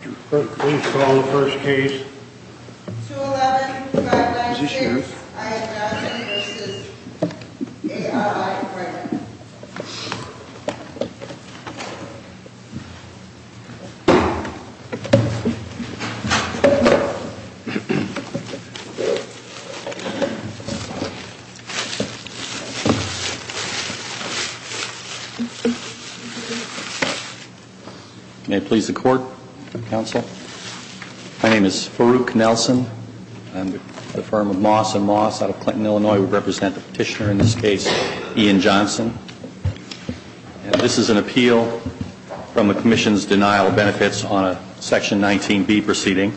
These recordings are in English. Please call the first case. 211-596-IS-9 v. A.R.I. Brennan. May it please the Court, Counsel. My name is Farouk Nelson. I'm with the firm of Moss & Moss out of Clinton, Illinois. We represent the petitioner in this case, Ian Johnson. And this is an appeal from the Commission's denial of benefits on a Section 19B proceeding.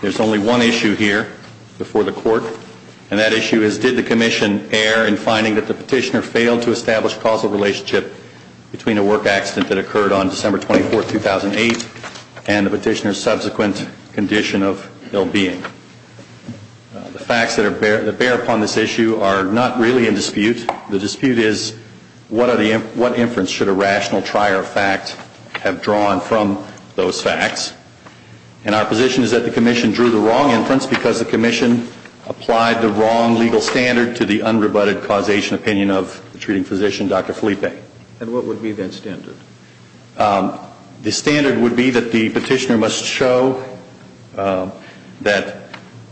There's only one issue here before the Court, and that issue is did the Commission err in finding that the petitioner failed to establish a causal relationship between a work accident that occurred on December 24, 2008 and the petitioner's subsequent condition of ill-being. The facts that bear upon this issue are not really in dispute. The dispute is what inference should a rational trier of fact have drawn from those facts. And our position is that the Commission drew the wrong inference because the Commission applied the wrong legal standard to the unrebutted causation opinion of the treating physician, Dr. Felipe. And what would be that standard? The standard would be that the petitioner must show that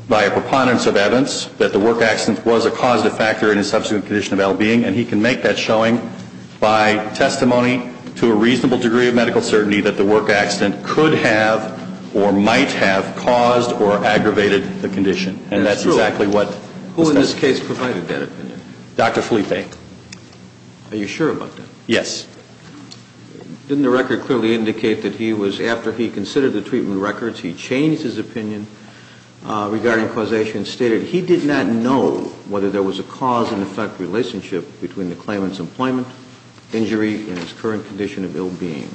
by a preponderance of evidence that the work accident was a causative factor in his subsequent condition of ill-being, and he can make that showing by testimony to a reasonable degree of medical certainty that the work accident could have or might have caused or aggravated the condition. And that's exactly what the statute says. Who in this case provided that opinion? Dr. Felipe. Are you sure about that? Yes. Didn't the record clearly indicate that he was, after he considered the treatment records, he changed his opinion regarding causation and stated he did not know whether there was a cause and effect relationship between the claimant's employment, injury, and his current condition of ill-being.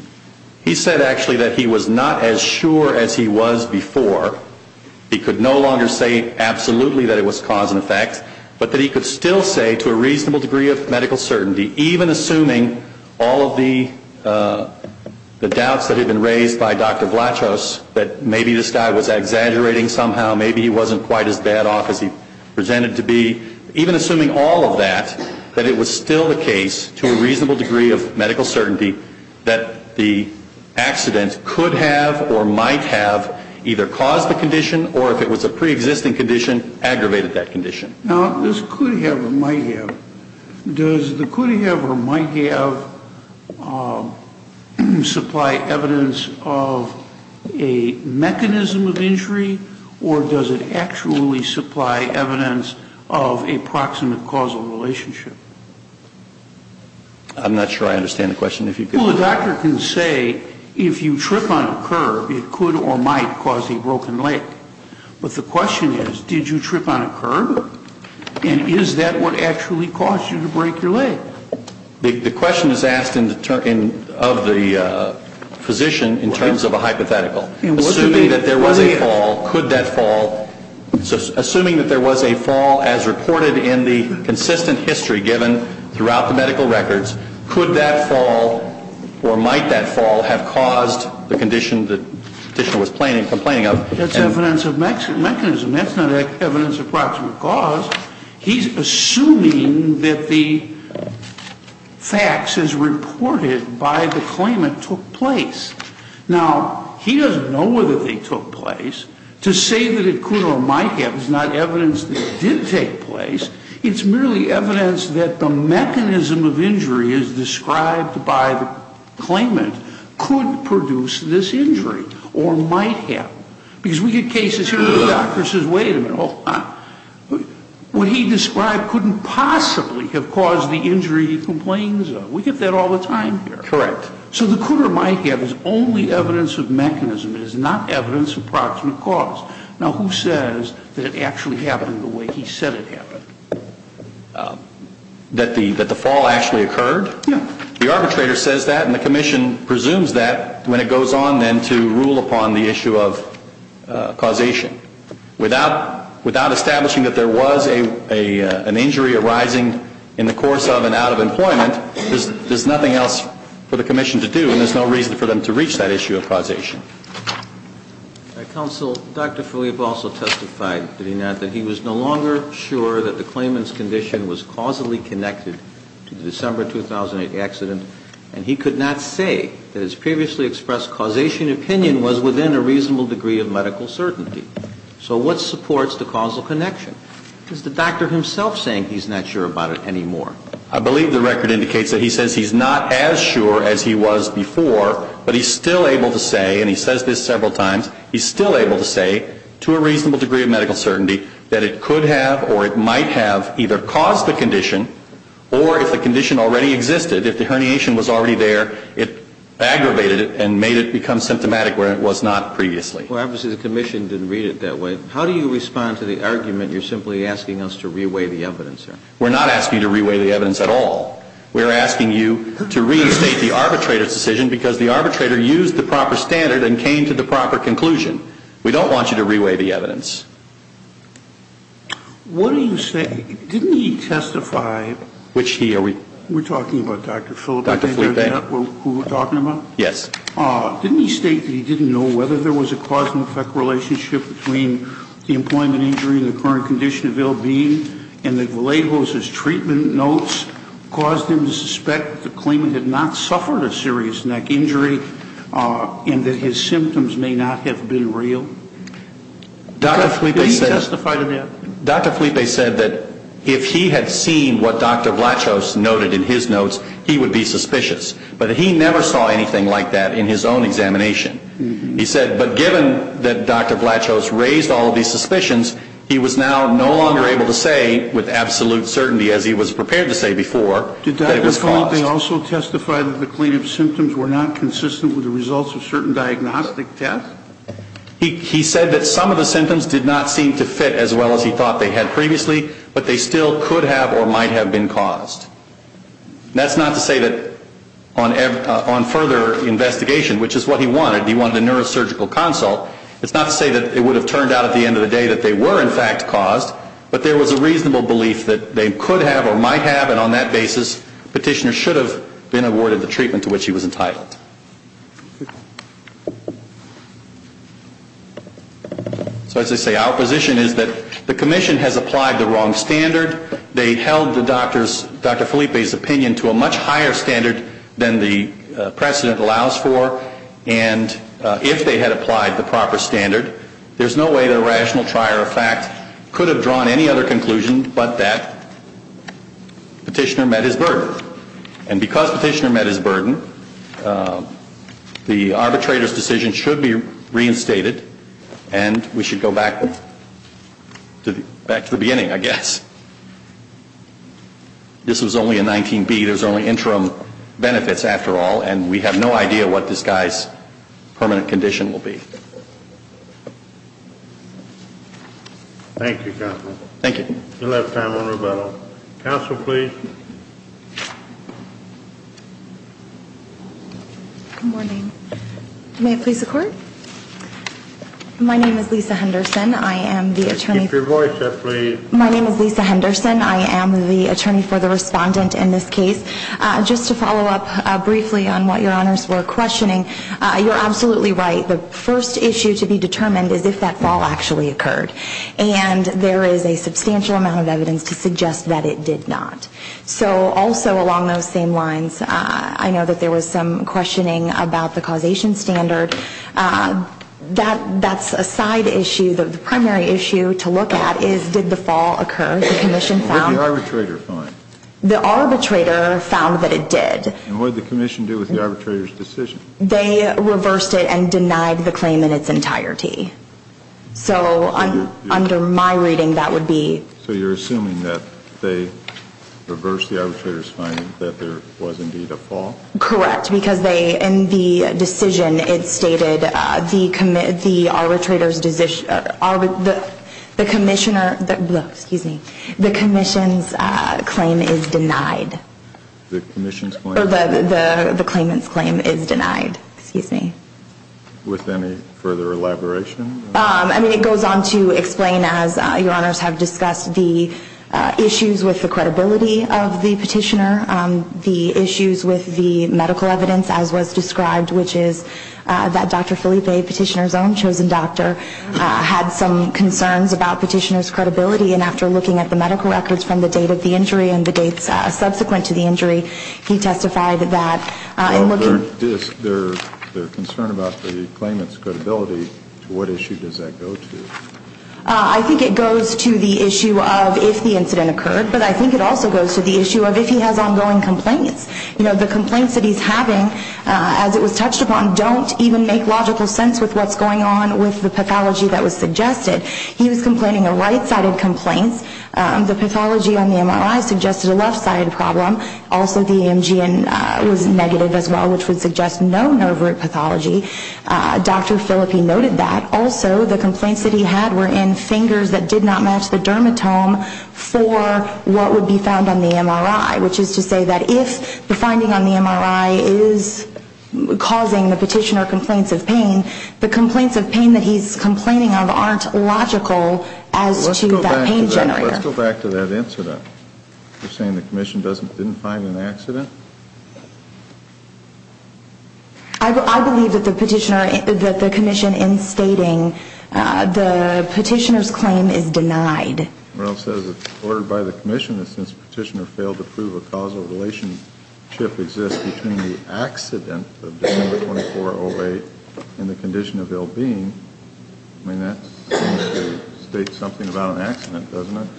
He said, actually, that he was not as sure as he was before. He could no longer say absolutely that it was cause and effect, but that he could still say to a reasonable degree of medical certainty, even assuming all of the doubts that had been raised by Dr. Vlachos that maybe this guy was exaggerating somehow, maybe he wasn't quite as bad off as he presented to be, even assuming all of that, that it was still the case, to a reasonable degree of medical certainty, that the accident could have or might have either caused the condition or if it was a preexisting condition, aggravated that condition. Now, this could have or might have, does the could have or might have supply evidence of a mechanism of injury or does it actually supply evidence of a proximate causal relationship? I'm not sure I understand the question. Well, the doctor can say if you trip on a curb, it could or might cause a broken leg. But the question is, did you trip on a curb? And is that what actually caused you to break your leg? The question is asked of the physician in terms of a hypothetical. Assuming that there was a fall, could that fall? Assuming that there was a fall, as reported in the consistent history given throughout the medical records, could that fall or might that fall have caused the condition that the petitioner was complaining of? That's evidence of mechanism. That's not evidence of proximate cause. He's assuming that the facts as reported by the claimant took place. Now, he doesn't know whether they took place. To say that it could or might have is not evidence that it did take place. It's merely evidence that the mechanism of injury as described by the claimant could produce this injury or might have. Because we get cases here where the doctor says, wait a minute, hold on. What he described couldn't possibly have caused the injury he complains of. We get that all the time here. Correct. So the could or might have is only evidence of mechanism. It is not evidence of proximate cause. Now, who says that it actually happened the way he said it happened? That the fall actually occurred? Yeah. The arbitrator says that and the commission presumes that when it goes on then to rule upon the issue of causation. Without establishing that there was an injury arising in the course of And there's no reason for them to reach that issue of causation. Counsel, Dr. Fulop also testified that he was no longer sure that the claimant's condition was causally connected to the December 2008 accident. And he could not say that his previously expressed causation opinion was within a reasonable degree of medical certainty. So what supports the causal connection? Is the doctor himself saying he's not sure about it anymore? I believe the record indicates that he says he's not as sure as he was before, but he's still able to say, and he says this several times, he's still able to say to a reasonable degree of medical certainty that it could have or it might have either caused the condition or if the condition already existed, if the herniation was already there, it aggravated it and made it become symptomatic where it was not previously. Well, obviously the commission didn't read it that way. How do you respond to the argument you're simply asking us to reweigh the evidence here? We're not asking you to reweigh the evidence at all. We're asking you to restate the arbitrator's decision because the arbitrator used the proper standard and came to the proper conclusion. We don't want you to reweigh the evidence. What do you say? Didn't he testify? Which he? We're talking about Dr. Fulop, who we're talking about? Yes. Didn't he state that he didn't know whether there was a cause and effect relationship between the employment injury and the current condition of ill and that his treatment notes caused him to suspect that the claimant had not suffered a serious neck injury and that his symptoms may not have been real? Didn't he testify to that? Dr. Fulop said that if he had seen what Dr. Vlachos noted in his notes, he would be suspicious. But he never saw anything like that in his own examination. He said, but given that Dr. Vlachos raised all of these suspicions, he was now no longer able to say with absolute certainty, as he was prepared to say before, that it was caused. Did Dr. Fulop also testify that the claimant's symptoms were not consistent with the results of certain diagnostic tests? He said that some of the symptoms did not seem to fit as well as he thought they had previously, but they still could have or might have been caused. That's not to say that on further investigation, which is what he wanted, he wanted a neurosurgical consult, it's not to say that it would have turned out at the end of the day that they were in fact caused, but there was a reasonable belief that they could have or might have, and on that basis, the petitioner should have been awarded the treatment to which he was entitled. So as I say, our position is that the Commission has applied the wrong standard. They held Dr. Fulop's opinion to a much higher standard than the precedent allows for, and if they had applied the proper standard, there's no way that a rational trier of fact could have drawn any other conclusion but that the petitioner met his burden. And because the petitioner met his burden, the arbitrator's decision should be reinstated, and we should go back to the beginning, I guess. This was only a 19B. There's only interim benefits, after all, and we have no idea what this guy's permanent condition will be. Thank you, Counsel. Thank you. We'll have time on rebuttal. Counsel, please. Good morning. May it please the Court? My name is Lisa Henderson. I am the attorney for the respondent in this case. Just to follow up briefly on what Your Honors were questioning, you're absolutely right. The first issue to be determined is if that fall actually occurred, and there is a substantial amount of evidence to suggest that it did not. So also along those same lines, I know that there was some questioning about the causation standard. That's a side issue. The primary issue to look at is did the fall occur? The Commission found the arbitrator, found that it did. And what did the Commission do with the arbitrator's decision? They reversed it and denied the claim in its entirety. So under my reading, that would be? So you're assuming that they reversed the arbitrator's finding that there was indeed a fall? Correct. Correct, because they, in the decision, it stated the arbitrator's decision, the Commissioner, excuse me, the Commission's claim is denied. The Commission's claim? The claimant's claim is denied. Excuse me. With any further elaboration? I mean, it goes on to explain, as Your Honors have discussed, the issues with the credibility of the petitioner, the issues with the medical evidence, as was described, which is that Dr. Felipe, petitioner's own chosen doctor, had some concerns about petitioner's credibility. And after looking at the medical records from the date of the injury and the dates subsequent to the injury, he testified that in looking at Well, their concern about the claimant's credibility, to what issue does that go to? I think it goes to the issue of if the incident occurred. But I think it also goes to the issue of if he has ongoing complaints. You know, the complaints that he's having, as it was touched upon, don't even make logical sense with what's going on with the pathology that was suggested. He was complaining of right-sided complaints. The pathology on the MRI suggested a left-sided problem. Also, the EMG was negative as well, which would suggest no nerve root pathology. Dr. Felipe noted that. Also, the complaints that he had were in fingers that did not match the dermatome for what would be found on the MRI, which is to say that if the finding on the MRI is causing the petitioner complaints of pain, the complaints of pain that he's complaining of aren't logical as to that pain generator. Let's go back to that incident. You're saying the commission didn't find an accident? I believe that the petitioner, that the commission in stating the petitioner's claim is denied. Reynolds says it's ordered by the commission that since the petitioner failed to prove a causal relationship exists between the accident of December 24, 2008 and the condition of ill-being, I mean, that seems to state something about an accident, doesn't it?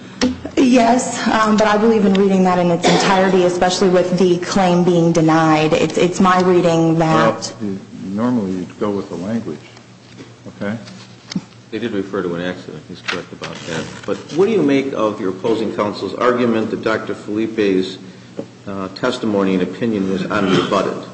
Yes, but I believe in reading that in its entirety, especially with the claim being denied. It's my reading that- Well, normally you'd go with the language, okay? They did refer to an accident. He's correct about that. But what do you make of your opposing counsel's argument that Dr. Felipe's testimony and opinion is unrebutted?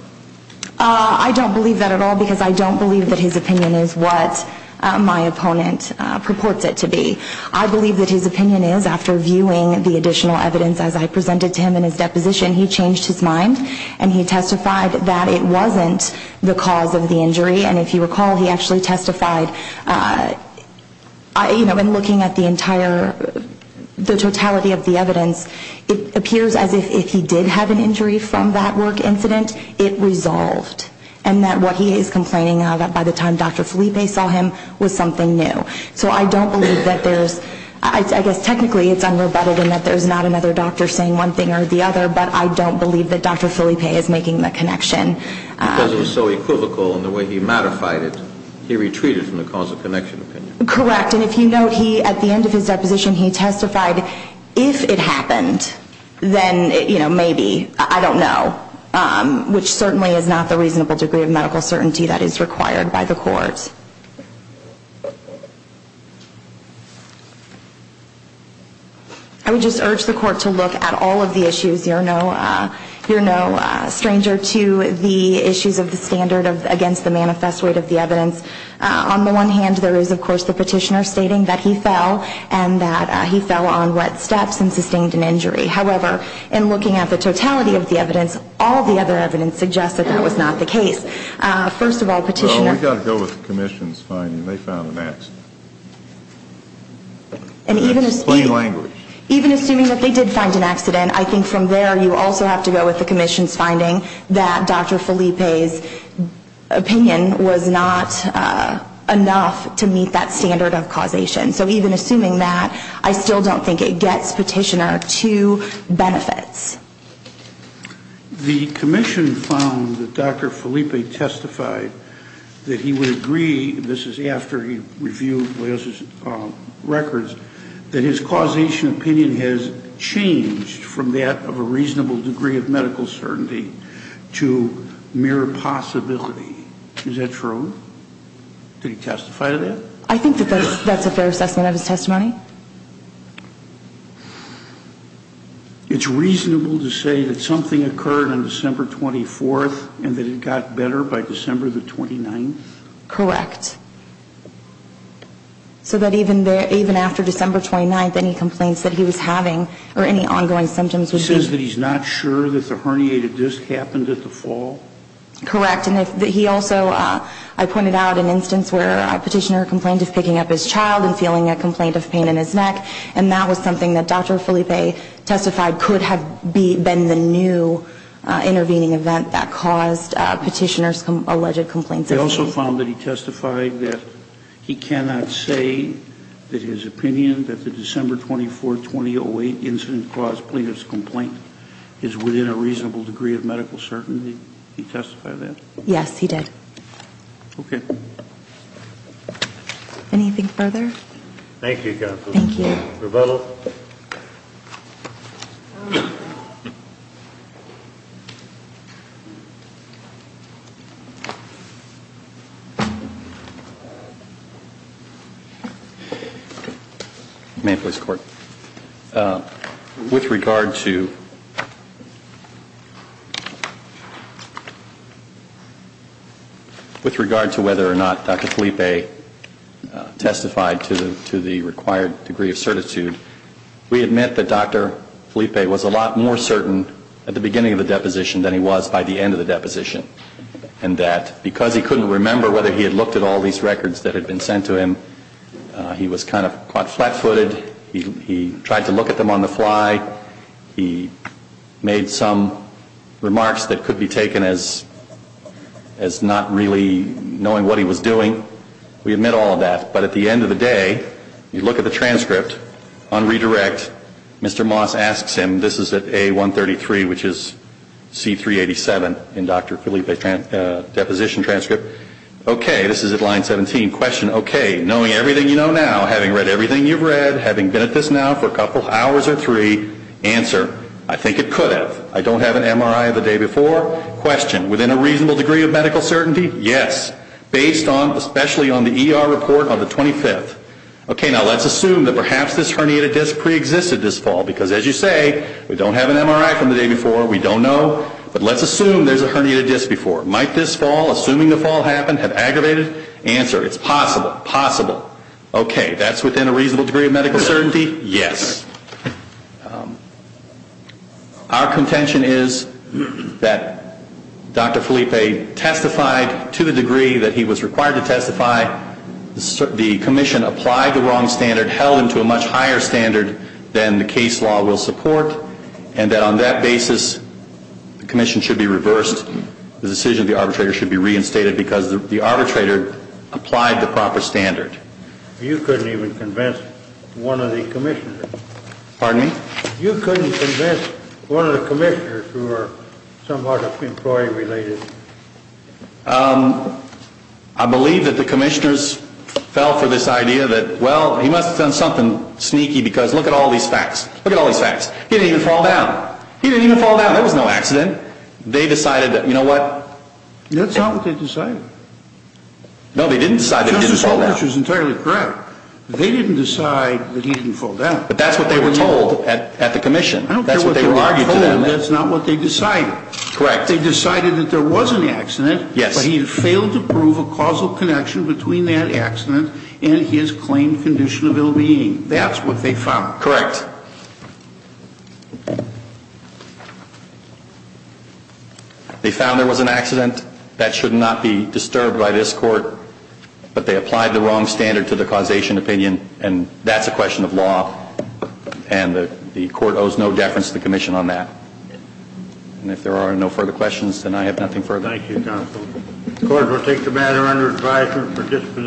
I don't believe that at all because I don't believe that his opinion is what my opponent purports it to be. I believe that his opinion is, after viewing the additional evidence as I presented to him in his deposition, he changed his mind and he testified that it wasn't the cause of the injury. And if you recall, he actually testified, you know, in looking at the entire, the totality of the evidence, it appears as if he did have an injury from that work incident. It resolved. And that what he is complaining of by the time Dr. Felipe saw him was something new. So I don't believe that there's- I guess technically it's unrebutted in that there's not another doctor saying one thing or the other, but I don't believe that Dr. Felipe is making that connection. Because it was so equivocal in the way he modified it, he retreated from the cause of connection opinion. Correct. And if you note, he, at the end of his deposition, he testified, if it happened, then, you know, maybe. I don't know. Which certainly is not the reasonable degree of medical certainty that is required by the court. I would just urge the court to look at all of the issues. You're no stranger to the issues of the standard against the manifest weight of the evidence. On the one hand, there is, of course, the petitioner stating that he fell and that he fell on wet steps and sustained an injury. However, in looking at the totality of the evidence, all the other evidence suggests that that was not the case. First of all, petitioner- Well, we've got to go with the commission's finding. They found an accident. That's plain language. Even assuming that they did find an accident, I think from there you also have to go with the commission's finding that Dr. Felipe's opinion was not enough to meet that standard of causation. So even assuming that, I still don't think it gets petitioner to benefits. The commission found that Dr. Felipe testified that he would agree, this is after he reviewed Leo's records, that his causation opinion has changed from that of a reasonable degree of medical certainty to mere possibility. Is that true? Did he testify to that? I think that that's a fair assessment of his testimony. It's reasonable to say that something occurred on December 24th and that it got better by December the 29th? Correct. So that even after December 29th, any complaints that he was having or any ongoing symptoms would be- He says that he's not sure that the herniated disc happened at the fall? Correct. And he also, I pointed out an instance where a petitioner complained of picking up his child and feeling a complaint of pain in his neck. And that was something that Dr. Felipe testified could have been the new intervening event that caused petitioner's alleged complaints of pain. He also found that he testified that he cannot say that his opinion that the December 24, 2008 incident caused plaintiff's complaint is within a reasonable degree of medical certainty. Did he testify to that? Yes, he did. Okay. Anything further? Thank you, counsel. Thank you. Rivello? May I please, court? With regard to whether or not Dr. Felipe testified to the required degree of certitude, we admit that Dr. Felipe was a lot more certain at the beginning of the deposition than he was by the end of the deposition. And that because he couldn't remember whether he had looked at all these records that had been sent to him, he was kind of quite flat-footed. He tried to look at them on the fly. He made some remarks that could be taken as not really knowing what he was doing. We admit all of that. But at the end of the day, you look at the transcript on redirect. Mr. Moss asks him, this is at A133, which is C387 in Dr. Felipe's deposition transcript. Okay, this is at line 17. Question, okay, knowing everything you know now, having read everything you've read, having been at this now for a couple hours or three, answer, I think it could have. I don't have an MRI of the day before. Question, within a reasonable degree of medical certainty? Yes. Based on, especially on the ER report on the 25th. Okay, now let's assume that perhaps this herniated disc preexisted this fall. Because as you say, we don't have an MRI from the day before. We don't know. But let's assume there's a herniated disc before. Might this fall, assuming the fall happened, have aggravated? Answer, it's possible. Possible. Okay, that's within a reasonable degree of medical certainty? Yes. Our contention is that Dr. Felipe testified to the degree that he was required to testify. The commission applied the wrong standard, held him to a much higher standard than the case law will support. And that on that basis, the commission should be reversed. The decision of the arbitrator should be reinstated because the arbitrator applied the proper standard. You couldn't even convince one of the commissioners. Pardon me? You couldn't convince one of the commissioners who are somewhat employee-related. I believe that the commissioners fell for this idea that, well, he must have done something sneaky because look at all these facts. Look at all these facts. He didn't even fall down. He didn't even fall down. That was no accident. They decided that, you know what? That's not what they decided. No, they didn't decide that he didn't fall down. Justice Roberts was entirely correct. They didn't decide that he didn't fall down. But that's what they were told at the commission. I don't care what they were told. That's what they argued to them. That's not what they decided. Correct. They decided that there was an accident. Yes. But he had failed to prove a causal connection between that accident and his claimed condition of ill-being. That's what they found. Correct. They found there was an accident. That should not be disturbed by this court. But they applied the wrong standard to the causation opinion. And that's a question of law. And the court owes no deference to the commission on that. And if there are no further questions, then I have nothing further. Thank you, counsel. The court will take the matter under advisement for disposition.